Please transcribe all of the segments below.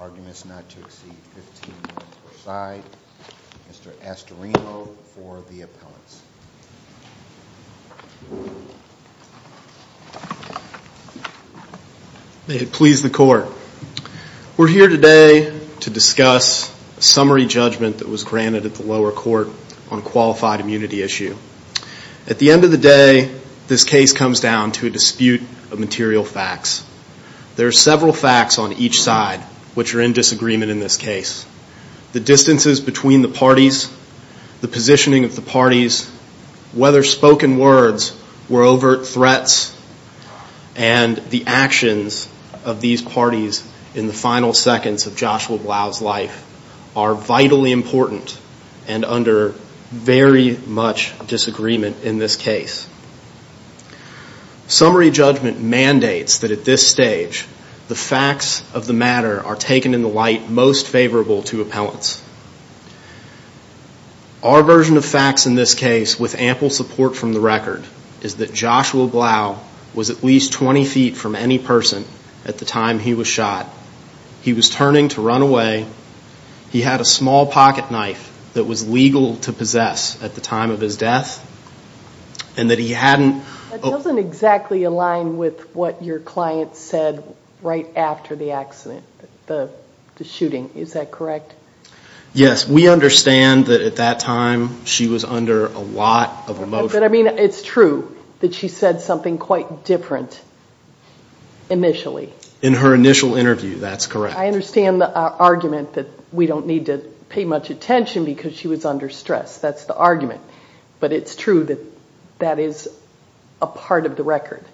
Arguments not to exceed 15 minutes per side Mr. Astorino for the appellants. May it please the court. We're here today to discuss a summary judgment that was granted at the lower court on qualified immunity issue. At the end of the day this case comes down to a dispute of material facts. There are several facts on each side which are in disagreement in this case. The distances between the parties, the positioning of the parties, whether spoken words were overt threats, and the actions of these parties in the final seconds of Joshua Blau's life are vitally important and under very much disagreement in this case. Summary judgment mandates that at this stage the facts of the matter are taken in the light most favorable to appellants. Our version of facts in this case with ample support from the record is that Joshua Blau was at least 20 feet from any person at the time he was shot. He was turning to run away. He had a small pocket knife that was legal to possess at the time of his death. And that he hadn't... That doesn't exactly align with what your client said right after the accident, the shooting, is that correct? Yes, we understand that at that time she was under a lot of emotion. But I mean it's true that she said something quite different initially. In her initial interview, that's correct. I understand the argument that we don't need to pay much attention because she was under stress, that's the argument. But it's true that that is a part of the record.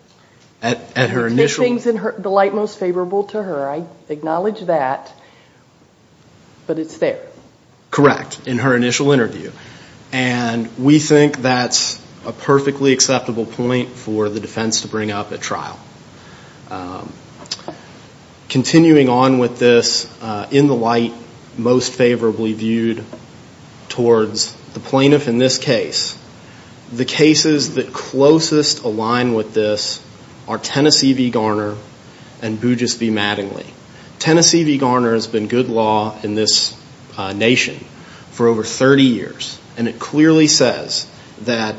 At her initial... The things in the light most favorable to her, I acknowledge that, but it's there. Correct, in her initial interview. And we think that's a perfectly acceptable point for the defense to bring up at trial. Continuing on with this, in the light most favorably viewed towards the plaintiff in this case, the cases that closest align with this are Tennessee v. Garner and Bouges B. Mattingly. Tennessee v. Garner has been good law in this nation for over 30 years and it clearly says that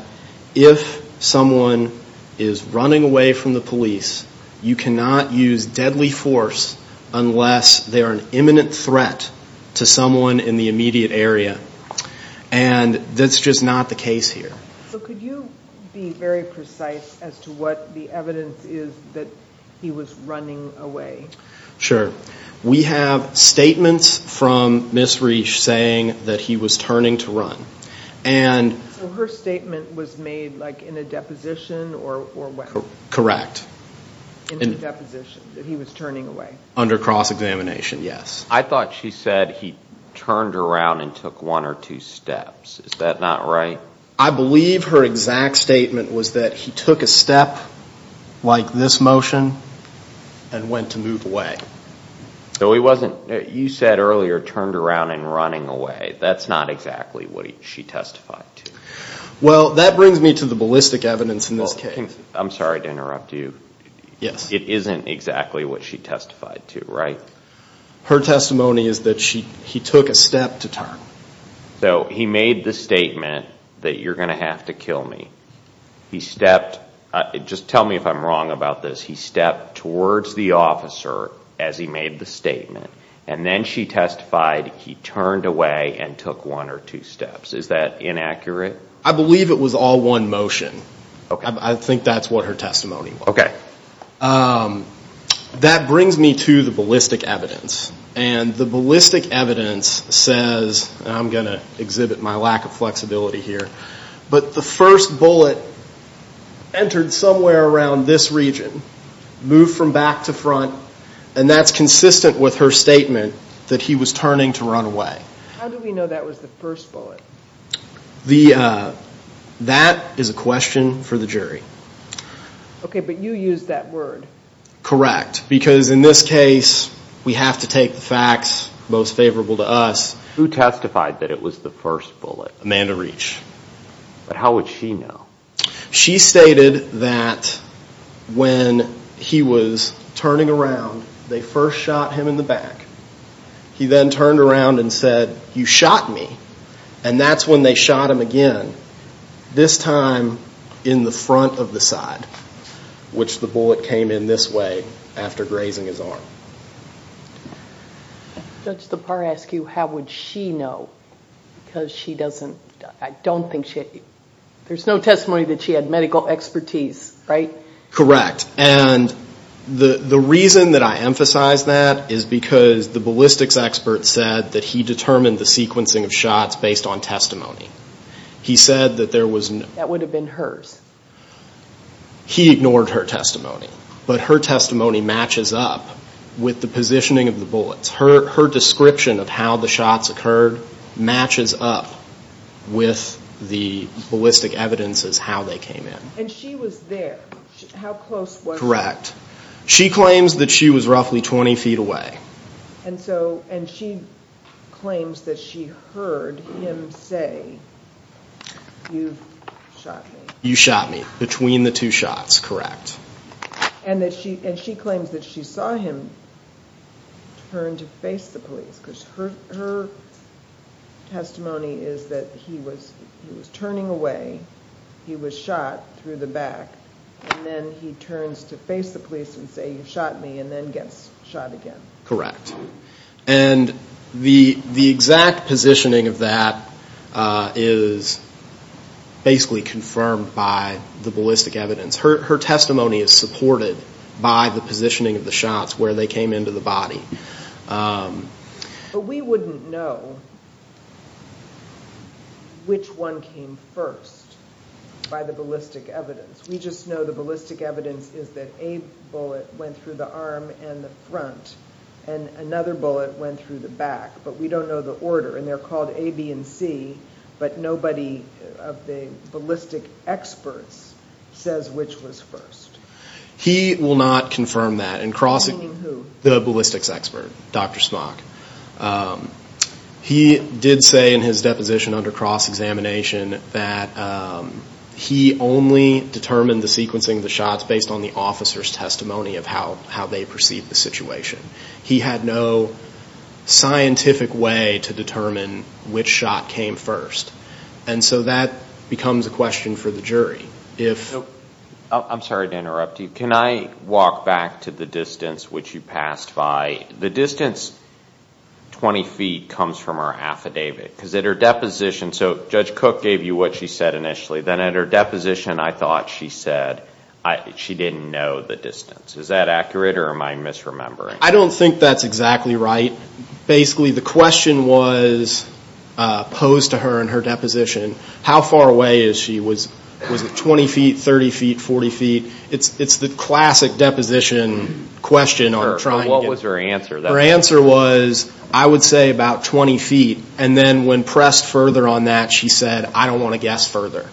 if someone is running away from the police, you cannot use deadly force unless they are an imminent threat to someone in the immediate area. And that's just not the case here. So could you be very precise as to what the evidence is that he was running away? Sure. We have statements from Ms. Reich saying that he was turning to run. Her statement was made in a deposition or what? Correct. In a deposition, that he was turning away. Under cross-examination, yes. I thought she said he turned around and took one or two steps. Is that not right? I believe her exact statement was that he took a step like this motion and went to move away. So he wasn't... You said earlier, turned around and running away. That's not exactly what she testified to. Well, that brings me to the ballistic evidence in this case. I'm sorry to interrupt you. Yes. It isn't exactly what she testified to, right? Her testimony is that he took a step to turn. So he made the statement that you're going to have to kill me. He stepped, just tell me if I'm wrong about this, he stepped away and took one or two steps. Is that inaccurate? I believe it was all one motion. I think that's what her testimony was. Okay. That brings me to the ballistic evidence. And the ballistic evidence says, and I'm going to exhibit my lack of flexibility here, but the first bullet entered somewhere around this region, moved from back to front, and that's consistent with her statement that he was turning to run away. How do we know that was the first bullet? That is a question for the jury. Okay. But you used that word. Correct. Because in this case, we have to take the facts most favorable to us. Who testified that it was the first bullet? Amanda Reach. But how would she know? She stated that when he was turning around, they first shot him in the back. He then turned around and said, you shot me. And that's when they shot him again, this time in the front of the side, which the bullet came in this way after grazing his arm. Judge Depar asks you, how would she know? Because she doesn't, I don't think she, there's no testimony that she had medical expertise, right? Correct. And the reason that I emphasize that is because the ballistics expert said that he determined the sequencing of shots based on testimony. He said that there was no... That would have been hers. He ignored her testimony. But her testimony matches up with the positioning of the bullets. Her description of how the shots occurred matches up with the ballistic evidence as how they came in. And she was there. How close was she? Correct. She claims that she was roughly 20 feet away. And so, and she claims that she heard him say, you've shot me. You shot me. Between the two shots. Correct. And that she, and she claims that she saw him turn to face the police. Because her testimony is that he was turning away. He was shot through the back. And then he turns to face the police and says, you shot me. And then gets shot again. Correct. And the exact positioning of that is basically confirmed by the ballistic evidence. Her testimony is supported by the positioning of the shots where they came into the body. But we wouldn't know which one of the shots came first by the ballistic evidence. We just know the ballistic evidence is that a bullet went through the arm and the front. And another bullet went through the back. But we don't know the order. And they're called A, B, and C. But nobody of the ballistic experts says which was first. He will not confirm that. Meaning who? The prosecution that he only determined the sequencing of the shots based on the officer's testimony of how they perceived the situation. He had no scientific way to determine which shot came first. And so that becomes a question for the jury. I'm sorry to interrupt you. Can I walk back to the distance which you passed by? The distance 20 feet comes from her affidavit. Because at her deposition, so Judge Cook gave you what she said initially. Then at her deposition I thought she said she didn't know the distance. Is that accurate or am I misremembering? I don't think that's exactly right. Basically the question was posed to her in her deposition. How far away is she? Was it 20 feet, 30 feet, 40 feet? It's the classic deposition question. What was her answer? Her answer was I would say about 20 feet. And then when pressed further on that she said I don't want to guess further.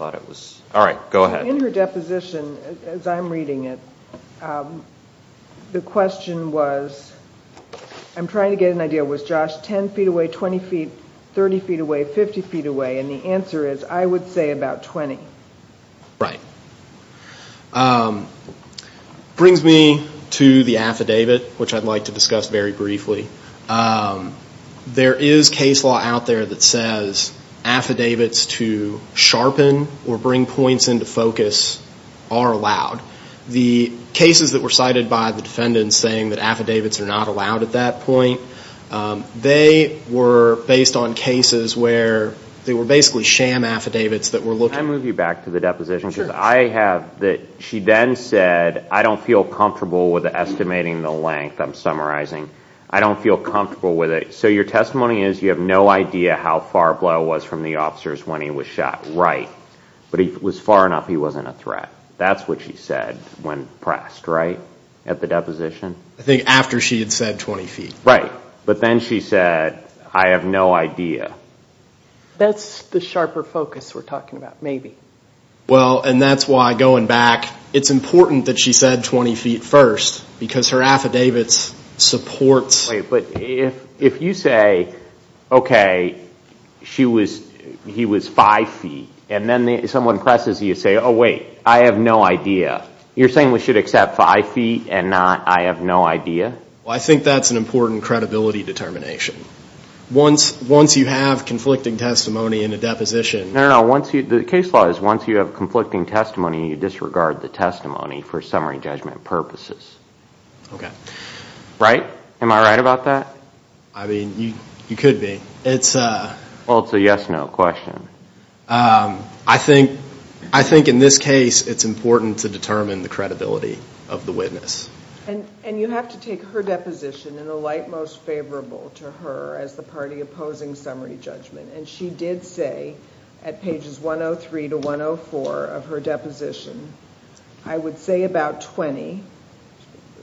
In her deposition, as I'm reading it, the question was, I'm trying to get an idea, was Josh 10 feet away, 20 feet, 30 feet away, 50 feet away? And the answer is I would say about 20. Right. Brings me to the affidavit, which I'd like to discuss very briefly. There is case law out there that says affidavits to sharpen or bring points into focus are allowed. The cases that were cited by the defendants saying that affidavits are not allowed at that point, they were based on cases where they were basically sham affidavits that were looked at. Can I move you back to the deposition? She then said I don't feel comfortable with estimating the length I'm summarizing. I don't feel comfortable with it. So your testimony is you have no idea how far Blow was from the officers when he was shot, right? But if it was far enough he wasn't a threat. That's what she said when pressed, right? At the deposition? I think after she had said 20 feet. Right. But then she said I have no idea. That's the sharper focus we're talking about, maybe. Well, and that's why going back, it's important that she said 20 feet first because her affidavits supports Wait, but if you say, okay, he was 5 feet, and then someone presses you to say, oh wait, I have no idea. You're saying we should accept 5 feet and not I have no idea? I think that's an important credibility determination. Once you have conflicting testimony in a deposition... No, no, no. The case law is once you have conflicting testimony, you disregard the testimony for summary judgment purposes. Okay. Right? Am I right about that? I mean, you could be. It's a... Well, it's a yes-no question. I think in this case it's important to determine the credibility of the witness. And you have to take her deposition in the light most favorable to her as the party opposing summary judgment. And she did say at pages 103 to 104 of her deposition, I would say about 20.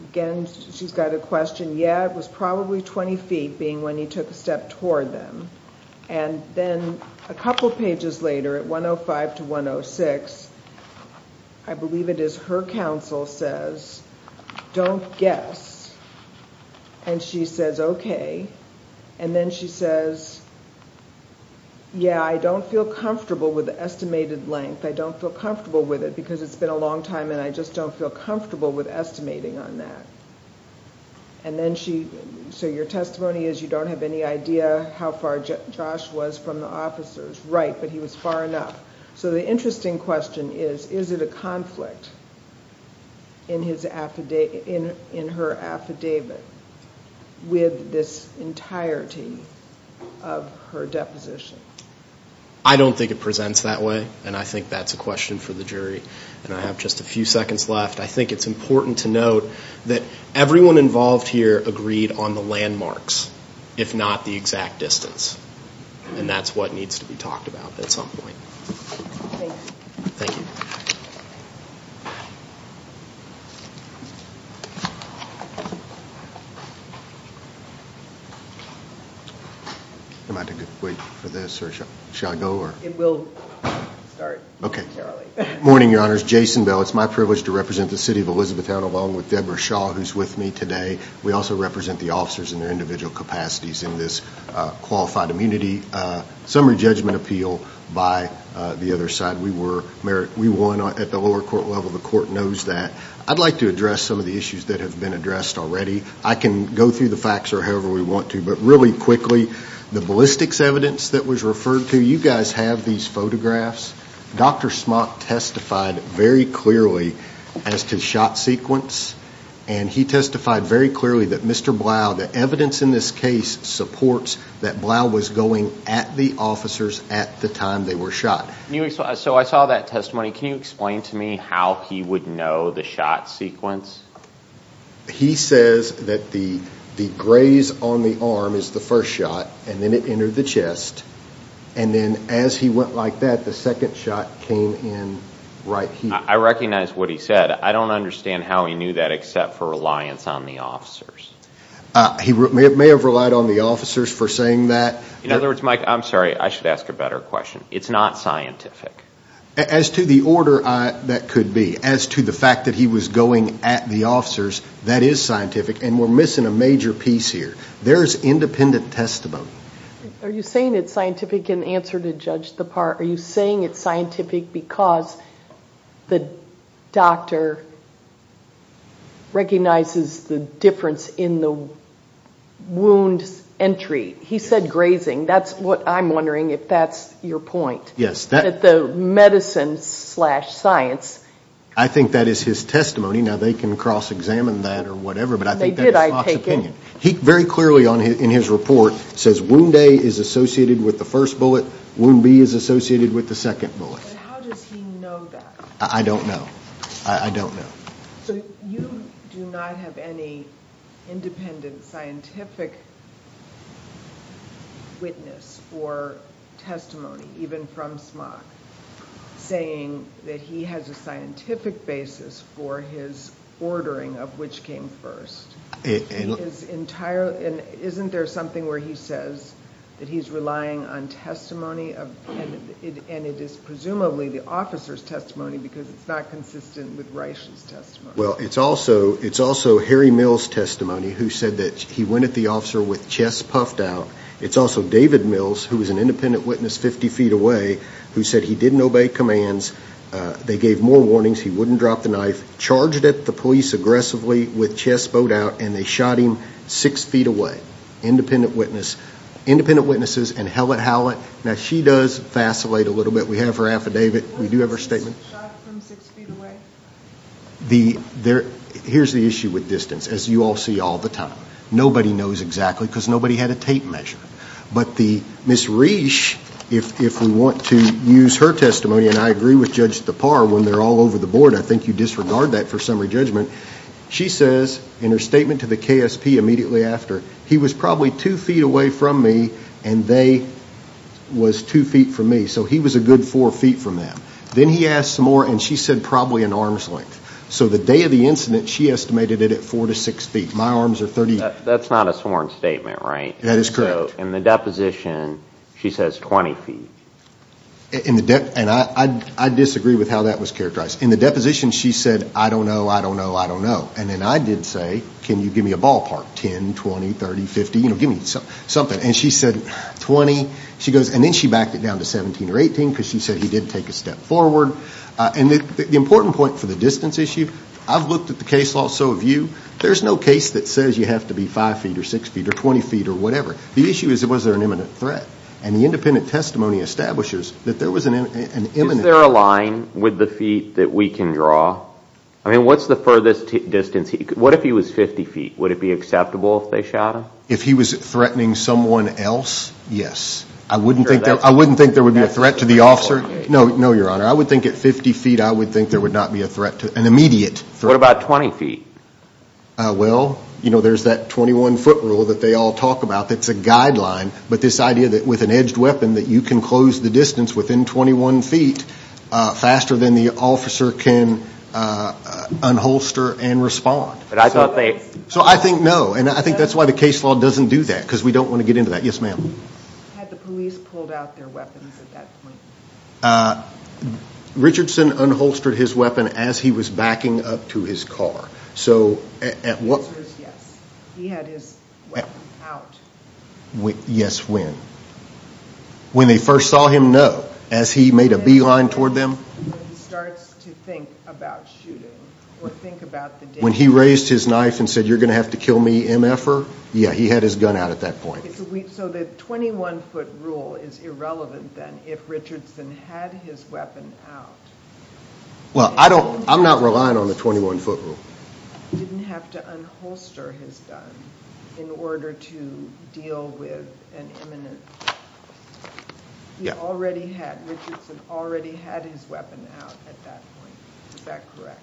Again, she's got a question. Yeah, it was probably 20 feet being when he took a step toward them. And then a couple pages later, at 105 to 106, I believe it is her counsel says, don't guess. And she says, okay. And then she says, yeah, I don't feel comfortable with the estimated length. I don't feel comfortable with it because it's been a long time and I just don't feel comfortable with estimating on that. And then she... So your testimony is you don't have any idea how far Josh was from the officers. Right. But he was far enough. So the interesting question is, is it a conflict in her affidavit with this entirety of her deposition? I don't think it presents that way. And I think that's a question for the jury. And I have just a few seconds left. I think it's important to note that everyone involved here agreed on the landmarks, if not the exact distance. And that's what needs to be talked about at some point. Thank you. Am I to wait for this or shall I go? It will start. Okay. Morning, Your Honors. Jason Bell. It's my privilege to represent the City of LA. We also represent the officers in their individual capacities in this Qualified Immunity Summary Judgment Appeal by the other side. We won at the lower court level. The court knows that. I'd like to address some of the issues that have been addressed already. I can go through the facts or however we want to. But really quickly, the ballistics evidence that was referred to, you guys have these photographs. Dr. Smock testified very clearly as to the shot sequence. And he testified very clearly that Mr. Blau, the evidence in this case supports that Blau was going at the officers at the time they were shot. So I saw that testimony. Can you explain to me how he would know the shot sequence? He says that the graze on the arm is the first shot. And then it entered the chest. And then as he went like that, the second shot came in right here. I recognize what he said. I don't understand how he knew that except for reliance on the officers. He may have relied on the officers for saying that. In other words, Mike, I'm sorry, I should ask a better question. It's not scientific. As to the order that could be, as to the fact that he was going at the officers, that is scientific. And we're missing a major piece here. There is independent testimony. Are you saying it's scientific in answer to Judge Thapar? Are you saying it's scientific because the doctor recognizes the difference in the wound entry? He said grazing. That's what I'm wondering if that's your point. Yes. That the medicine slash science. I think that is his testimony. Now they can cross-examine that or whatever, but I think that's Smock's opinion. He very clearly in his report says wound A is associated with the first bullet. Wound B is associated with the second bullet. How does he know that? I don't know. I don't know. So you do not have any independent scientific witness for testimony even from Smock saying that he has a scientific basis for his ordering of which came first? Isn't there something where he says that he's relying on testimony and it is presumably the officer's testimony because it's not consistent with Reich's testimony? It's also Harry Mills' testimony who said that he went at the officer with chest puffed out. It's also David Mills, who is an independent witness 50 feet away, who said he didn't obey commands. They gave more warnings. He wouldn't drop the knife. Charged at the police aggressively with chest bowed out and they shot him six feet away. Independent witnesses and howl it, howl it. Now she does vacillate a little bit. We have her affidavit. We do have her statement. Why was he shot from six feet away? Here's the issue with distance, as you all see all the time. Nobody knows exactly because nobody had a tape measure. But Ms. Reich, if we want to use her testimony, and I agree with Judge Tappar when they're all over the board, I think you disregard that for summary judgment. She says, in her statement to the KSP immediately after, he was probably two feet away from me and they was two feet from me. So he was a good four feet from them. Then he asked some more and she said probably an arm's length. So the day of the incident she estimated it at four to six feet. My arms are 30 feet. That's not a sworn statement, right? That is correct. In the deposition she says 20 feet. And I disagree with how that was characterized. In the deposition she said, I don't know, I don't know, I don't know. And then I did say, can you give me a ballpark, 10, 20, 30, 50, you know, give me something. And she said 20. She goes, and then she backed it down to 17 or 18 because she said he did take a step forward. And the important point for the distance issue, I've looked at the case law, so have you. There's no case that says you have to be five feet or six feet or 20 feet or whatever. The issue is, was there an imminent threat? And the independent testimony establishes that there was an imminent threat. Is there a line with the feet that we can draw? I mean, what's the furthest distance? What if he was 50 feet? Would it be acceptable if they shot him? If he was threatening someone else, yes. I wouldn't think there would be a threat to the officer. No, no, your honor. I would think at 50 feet, I would think there would not be a threat, an immediate threat. What about 20 feet? Well, you know, there's that 21 foot rule that they all talk about that's a guideline. But this idea that with an edged weapon that you can close the distance within 21 feet faster than the officer can unholster and respond. But I thought they... So I think no. And I think that's why the case law doesn't do that, because we don't want to get into that. Yes, ma'am. Had the police pulled out their weapons at that point? Richardson unholstered his weapon as he was backing up to his car. So at what... The answer is yes. He had his weapon out. Yes, when? When they first saw him? No. As he made a beeline toward them? When he starts to think about shooting or think about the danger. When he raised his knife and said, you're going to have to kill me MF-er? Yeah, he had his gun out at that point. So the 21 foot rule is irrelevant then if Richardson had his weapon out. Well, I don't... I'm not relying on the 21 foot rule. He didn't have to unholster his gun in order to deal with an imminent... Yeah. He already had... Richardson already had his weapon out at that point. Is that correct?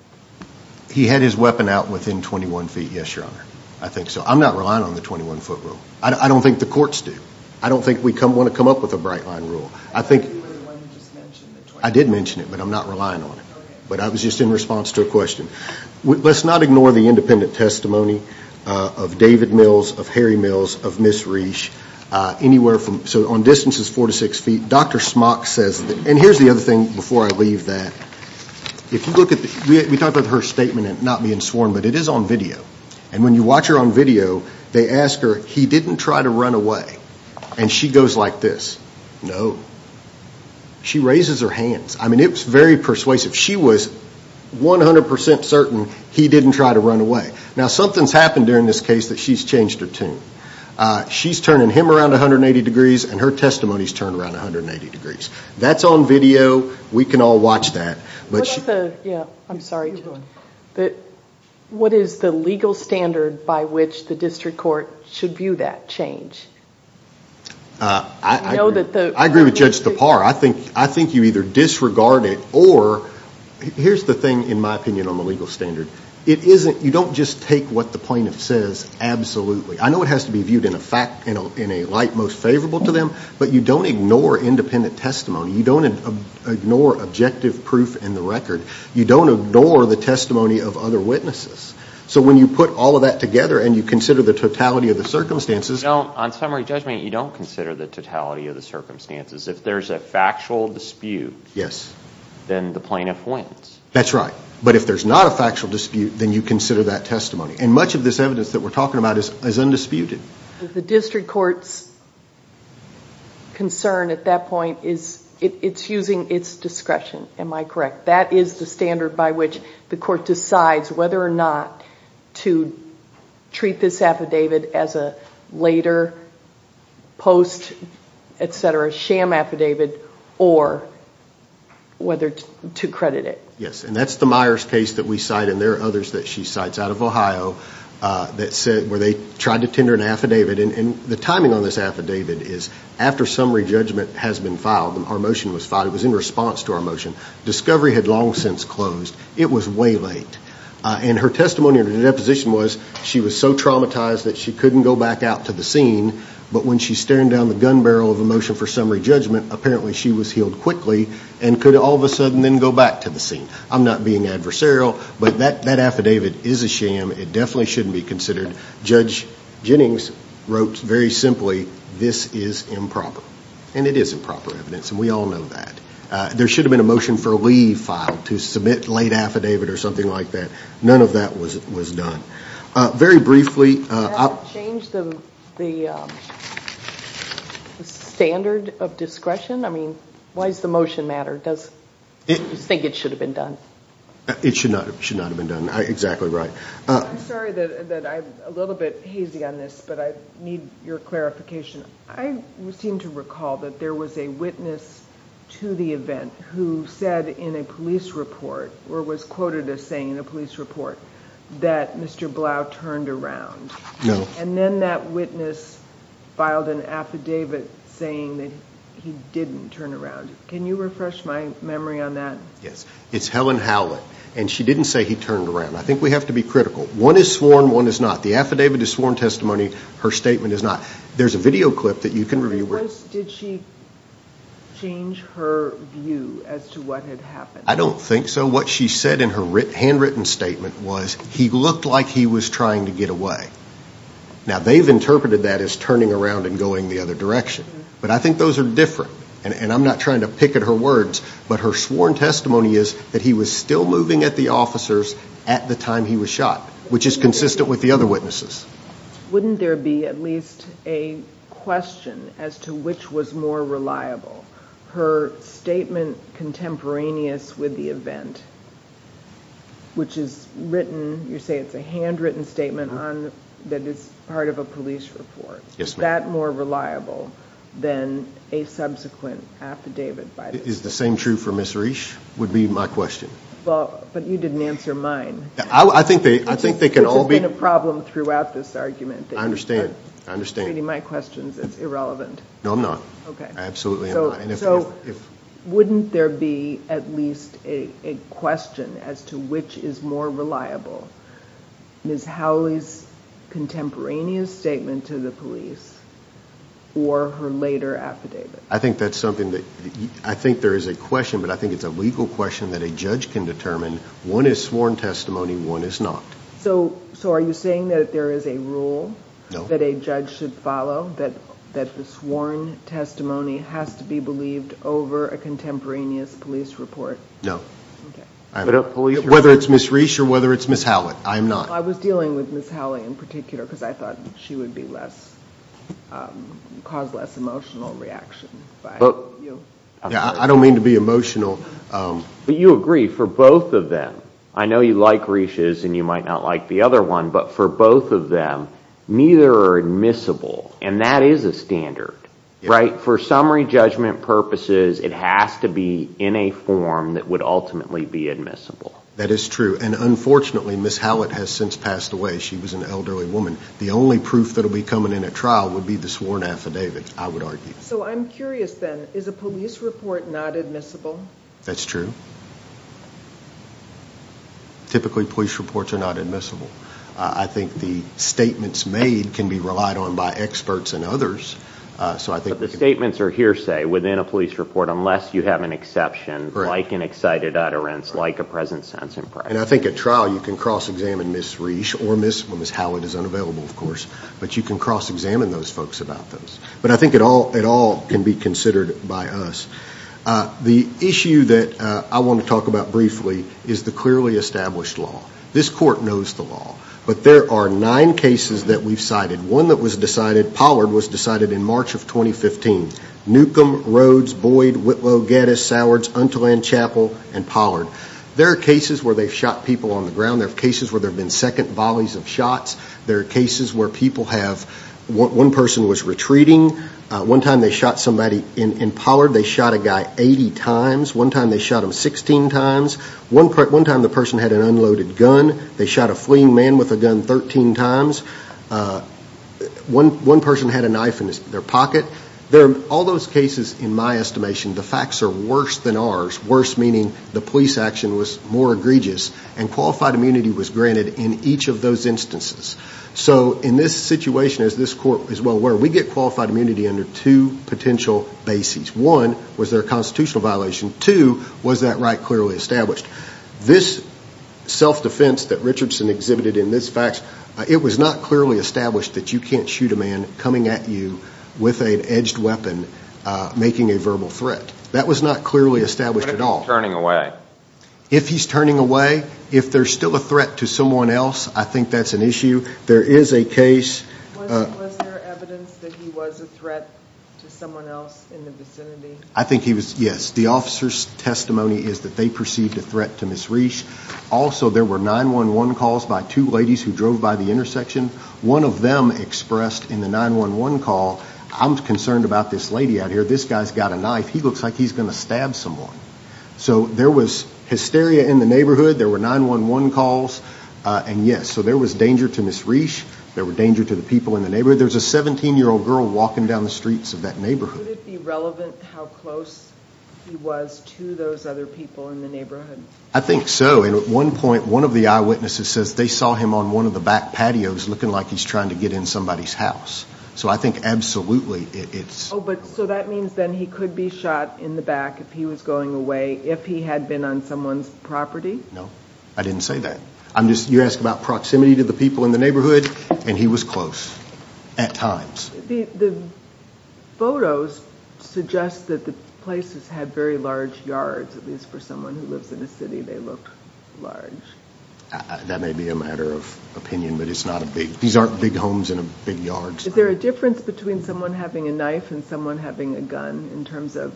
He had his weapon out within 21 feet. Yes, Your Honor. I think so. I'm not relying on the 21 foot rule. I don't think the courts do. I don't think we want to come up with a bright line rule. I thought you were the one who just mentioned the 21 foot rule. I did mention it, but I'm not relying on it. But I was just in response to a question. Let's not ignore the independent testimony of David Mills, of Harry Mills, of Ms. Reich. Anywhere from... So on distances four to six feet, Dr. Smock says... And here's the other thing before I leave that. If you look at... We talked about her statement and not being sworn, but it is on video. And when you watch her on video, they ask her, he didn't try to run away. And she goes like this. No. She raises her hands. I mean, it's very persuasive. She was 100% certain he didn't try to run away. Now, something's happened during this case that she's changed her tune. She's turning him around 180 degrees and her testimony's turned around 180 degrees. That's on video. We can all watch that. What is the legal standard by which the district court should view that change? I agree with Judge Tappar. I think you either disregard it or... Here's the thing, in my opinion, on the legal standard. You don't just take what the plaintiff says absolutely. I know it has to be viewed in a light most favorable to them, but you don't ignore independent testimony. You don't ignore objective proof in the record. You don't ignore the testimony of other witnesses. So when you put all of that together and you consider the totality of the circumstances... No, on summary judgment, you don't consider the totality of the circumstances. If there's a factual dispute, then the plaintiff wins. That's right. But if there's not a factual dispute, then you consider that testimony. And much of this evidence that we're talking about is undisputed. The district court's concern at that point is it's using its discretion. Am I correct? That is the standard by which the court decides whether or not to treat this affidavit as a later, post, etc., sham affidavit or whether to credit it. Yes, and that's the Myers case that we cite and there are others that she cites out of Ohio where they tried to tender an affidavit. And the timing on this affidavit is after summary judgment has been filed, our motion was filed, it was in response to our motion. Discovery had long since closed. It was way late. And her testimony in her deposition was she was so traumatized that she couldn't go back out to the scene, but when she's staring down the gun barrel of a motion for summary judgment, apparently she was healed quickly and could all of a sudden then go back to the scene. I'm not being adversarial, but that affidavit is a sham. It definitely shouldn't be considered. Judge Jennings wrote very simply, this is improper. And it is improper evidence and we all know that. There should have been a motion for leave filed to submit late affidavit or something like that. None of that was done. Very briefly... Has it changed the standard of discretion? I mean, why does the motion matter? Do you think it should have been done? It should not have been done. Exactly right. I'm sorry that I'm a little bit hazy on this, but I need your clarification. I seem to recall that there was a witness to the event who said in a police report, or was quoted as saying in a police report, that Mr. Blau turned around. No. And then that witness filed an affidavit saying that he didn't turn around. Can you refresh my memory on that? Yes. It's Helen Howlett, and she didn't say he turned around. I think we have to be critical. One is sworn, one is not. The affidavit is sworn testimony, her statement is not. There's a video clip that you can review. Did she change her view as to what had happened? I don't think so. What she said in her handwritten statement was he looked like he was trying to get away. Now, they've interpreted that as turning around and going the other direction, but I think those are different, and I'm not trying to pick at her words, but her sworn testimony is that he was still moving at the officers at the time he was shot, which is consistent with the other witnesses. Wouldn't there be at least a question as to which was more reliable, her statement contemporaneous with the event, which is written, you say it's a handwritten statement that is part of a police report. Yes, ma'am. Is that more reliable than a subsequent affidavit by the police? Is the same true for Ms. Resch would be my question. But you didn't answer mine. I think they can all be. There's been a problem throughout this argument. I understand. I understand. I'm stating my questions. It's irrelevant. No, I'm not. Okay. I absolutely am not. So wouldn't there be at least a question as to which is more reliable, Ms. Howley's contemporaneous statement to the police or her later affidavit? I think that's something that I think there is a question, but I think it's a legal question that a judge can determine. One is sworn testimony. One is not. So are you saying that there is a rule that a judge should follow, that the sworn testimony has to be believed over a contemporaneous police report? No. Okay. Whether it's Ms. Resch or whether it's Ms. Howley, I am not. I was dealing with Ms. Howley in particular because I thought she would be less, cause less emotional reaction by you. I don't mean to be emotional. But you agree for both of them. I know you like Resch's and you might not like the other one, but for both of them, neither are admissible, and that is a standard. Right? For summary judgment purposes, it has to be in a form that would ultimately be admissible. That is true. And unfortunately, Ms. Howley has since passed away. She was an elderly woman. The only proof that will be coming in at trial would be the sworn affidavit, I would argue. So I'm curious then, is a police report not admissible? That's true. Typically police reports are not admissible. I think the statements made can be relied on by experts and others. But the statements are hearsay within a police report unless you have an exception, like an excited utterance, like a present sense impression. And I think at trial you can cross-examine Ms. Resch or Ms. Howley, it is unavailable of course, but you can cross-examine those folks about this. But I think it all can be considered by us. The issue that I want to talk about briefly is the clearly established law. This court knows the law. But there are nine cases that we've cited. One that was decided, Pollard was decided in March of 2015. Newcomb, Rhodes, Boyd, Whitlow, Geddes, Sowers, Unterland, Chapel, and Pollard. There are cases where they've shot people on the ground. There are cases where there have been second volleys of shots. There are cases where people have, one person was retreating. One time they shot somebody in Pollard. They shot a guy 80 times. One time they shot him 16 times. One time the person had an unloaded gun. They shot a fleeing man with a gun 13 times. One person had a knife in their pocket. All those cases, in my estimation, the facts are worse than ours, worse meaning the police action was more egregious and qualified immunity was granted in each of those instances. In this situation, as this court is well aware, we get qualified immunity under two potential bases. One, was there a constitutional violation? Two, was that right clearly established? This self-defense that Richardson exhibited in this fact, it was not clearly established that you can't shoot a man coming at you with an edged weapon making a verbal threat. That was not clearly established at all. What if he's turning away? If he's turning away, if there's still a threat to someone else, I think that's an issue. There is a case. Was there evidence that he was a threat to someone else in the vicinity? I think he was, yes. The officer's testimony is that they perceived a threat to Ms. Reich. Also, there were 911 calls by two ladies who drove by the intersection. One of them expressed in the 911 call, I'm concerned about this lady out here. This guy's got a knife. He looks like he's going to stab someone. So there was hysteria in the neighborhood. There were 911 calls, and yes. So there was danger to Ms. Reich. There was danger to the people in the neighborhood. There's a 17-year-old girl walking down the streets of that neighborhood. Would it be relevant how close he was to those other people in the neighborhood? I think so. At one point, one of the eyewitnesses says they saw him on one of the back patios looking like he's trying to get in somebody's house. So I think absolutely. So that means then he could be shot in the back if he was going away, if he had been on someone's property? No, I didn't say that. You're asking about proximity to the people in the neighborhood, and he was close at times. The photos suggest that the places had very large yards. At least for someone who lives in a city, they look large. That may be a matter of opinion, but it's not a big – these aren't big homes in big yards. Is there a difference between someone having a knife and someone having a gun in terms of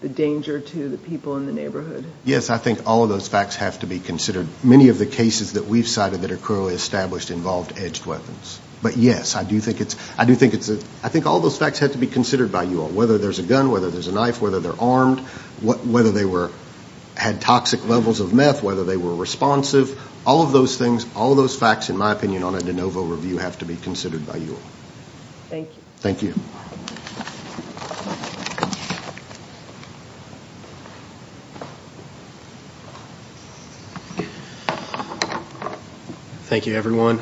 the danger to the people in the neighborhood? Yes, I think all of those facts have to be considered. Many of the cases that we've cited that are currently established involved edged weapons. But yes, I do think it's – I think all those facts have to be considered by you all, whether there's a gun, whether there's a knife, whether they're armed, whether they had toxic levels of meth, whether they were responsive. All of those things, all of those facts, in my opinion, on a de novo review, have to be considered by you all. Thank you. Thank you. Thank you, everyone.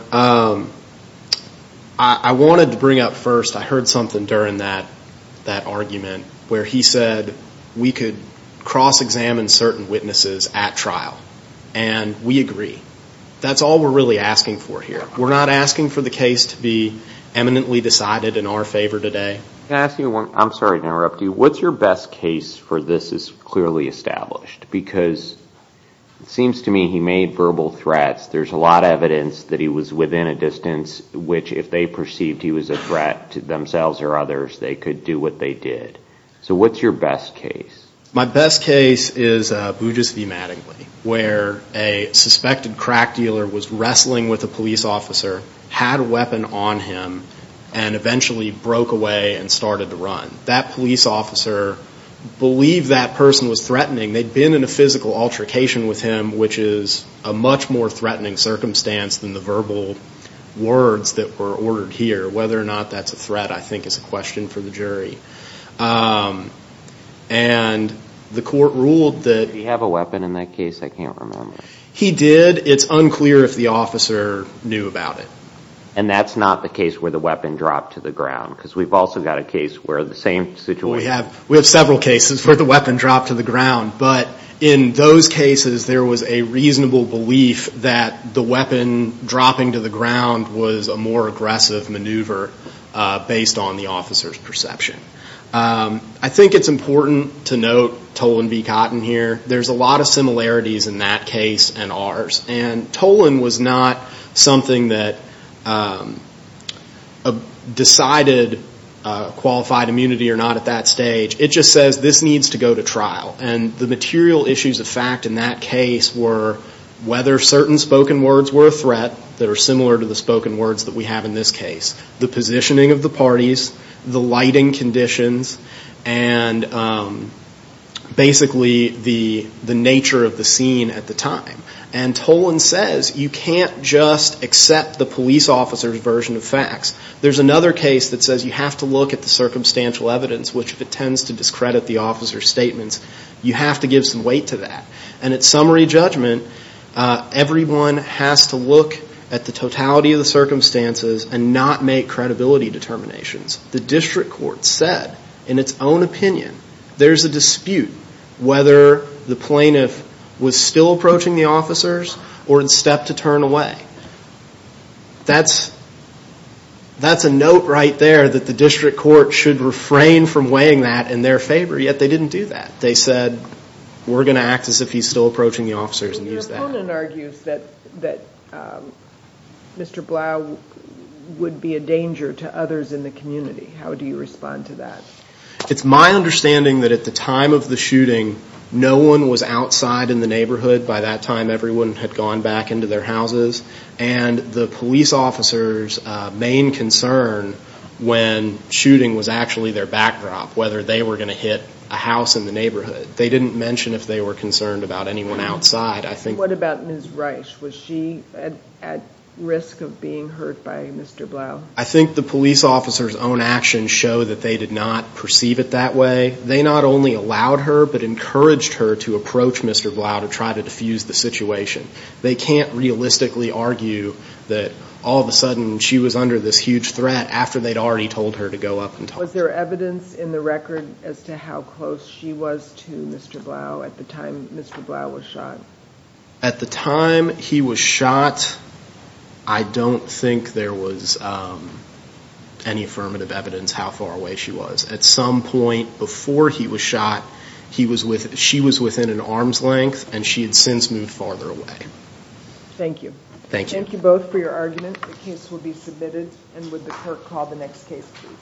I wanted to bring up first – I heard something during that argument where he said we could cross-examine certain witnesses at trial, and we agree. That's all we're really asking for here. We're not asking for the case to be eminently decided in our favor today. Can I ask you one – I'm sorry to interrupt you. What's your best case for this is clearly established? Because it seems to me he made verbal threats. There's a lot of evidence that he was within a distance, which if they perceived he was a threat to themselves or others, they could do what they did. So what's your best case? My best case is Bouges v. Mattingly, where a suspected crack dealer was wrestling with a police officer, had a weapon on him, and eventually broke away and started to run. That police officer believed that person was threatening. They'd been in a physical altercation with him, which is a much more threatening circumstance than the verbal words that were ordered here. Whether or not that's a threat I think is a question for the jury. And the court ruled that – Did he have a weapon in that case? I can't remember. He did. It's unclear if the officer knew about it. And that's not the case where the weapon dropped to the ground? Because we've also got a case where the same situation – we have several cases where the weapon dropped to the ground, but in those cases there was a reasonable belief that the weapon dropping to the ground was a more aggressive maneuver based on the officer's perception. I think it's important to note Tolan v. Cotton here. There's a lot of similarities in that case and ours. And Tolan was not something that decided qualified immunity or not at that stage. It just says this needs to go to trial. And the material issues of fact in that case were whether certain spoken words were a threat that are similar to the spoken words that we have in this case, the positioning of the parties, the lighting conditions, and basically the nature of the scene at the time. And Tolan says you can't just accept the police officer's version of facts. There's another case that says you have to look at the circumstantial evidence, which if it tends to discredit the officer's statements, you have to give some weight to that. And at summary judgment, everyone has to look at the totality of the circumstances and not make credibility determinations. The district court said in its own opinion there's a dispute whether the plaintiff was still approaching the officers or had stepped to turn away. That's a note right there that the district court should refrain from weighing that in their favor, yet they didn't do that. They said we're going to act as if he's still approaching the officers and use that. Your opponent argues that Mr. Blau would be a danger to others in the community. How do you respond to that? It's my understanding that at the time of the shooting, no one was outside in the neighborhood. By that time, everyone had gone back into their houses. And the police officer's main concern when shooting was actually their backdrop, whether they were going to hit a house in the neighborhood. They didn't mention if they were concerned about anyone outside. What about Ms. Reich? Was she at risk of being hurt by Mr. Blau? I think the police officer's own actions show that they did not perceive it that way. They not only allowed her but encouraged her to approach Mr. Blau to try to defuse the situation. They can't realistically argue that all of a sudden she was under this huge threat after they'd already told her to go up and talk to him. Was there evidence in the record as to how close she was to Mr. Blau at the time Mr. Blau was shot? At the time he was shot, I don't think there was any affirmative evidence how far away she was. At some point before he was shot, she was within an arm's length and she had since moved farther away. Thank you. Thank you. Thank you both for your argument. The case will be submitted. And would the clerk call the next case, please?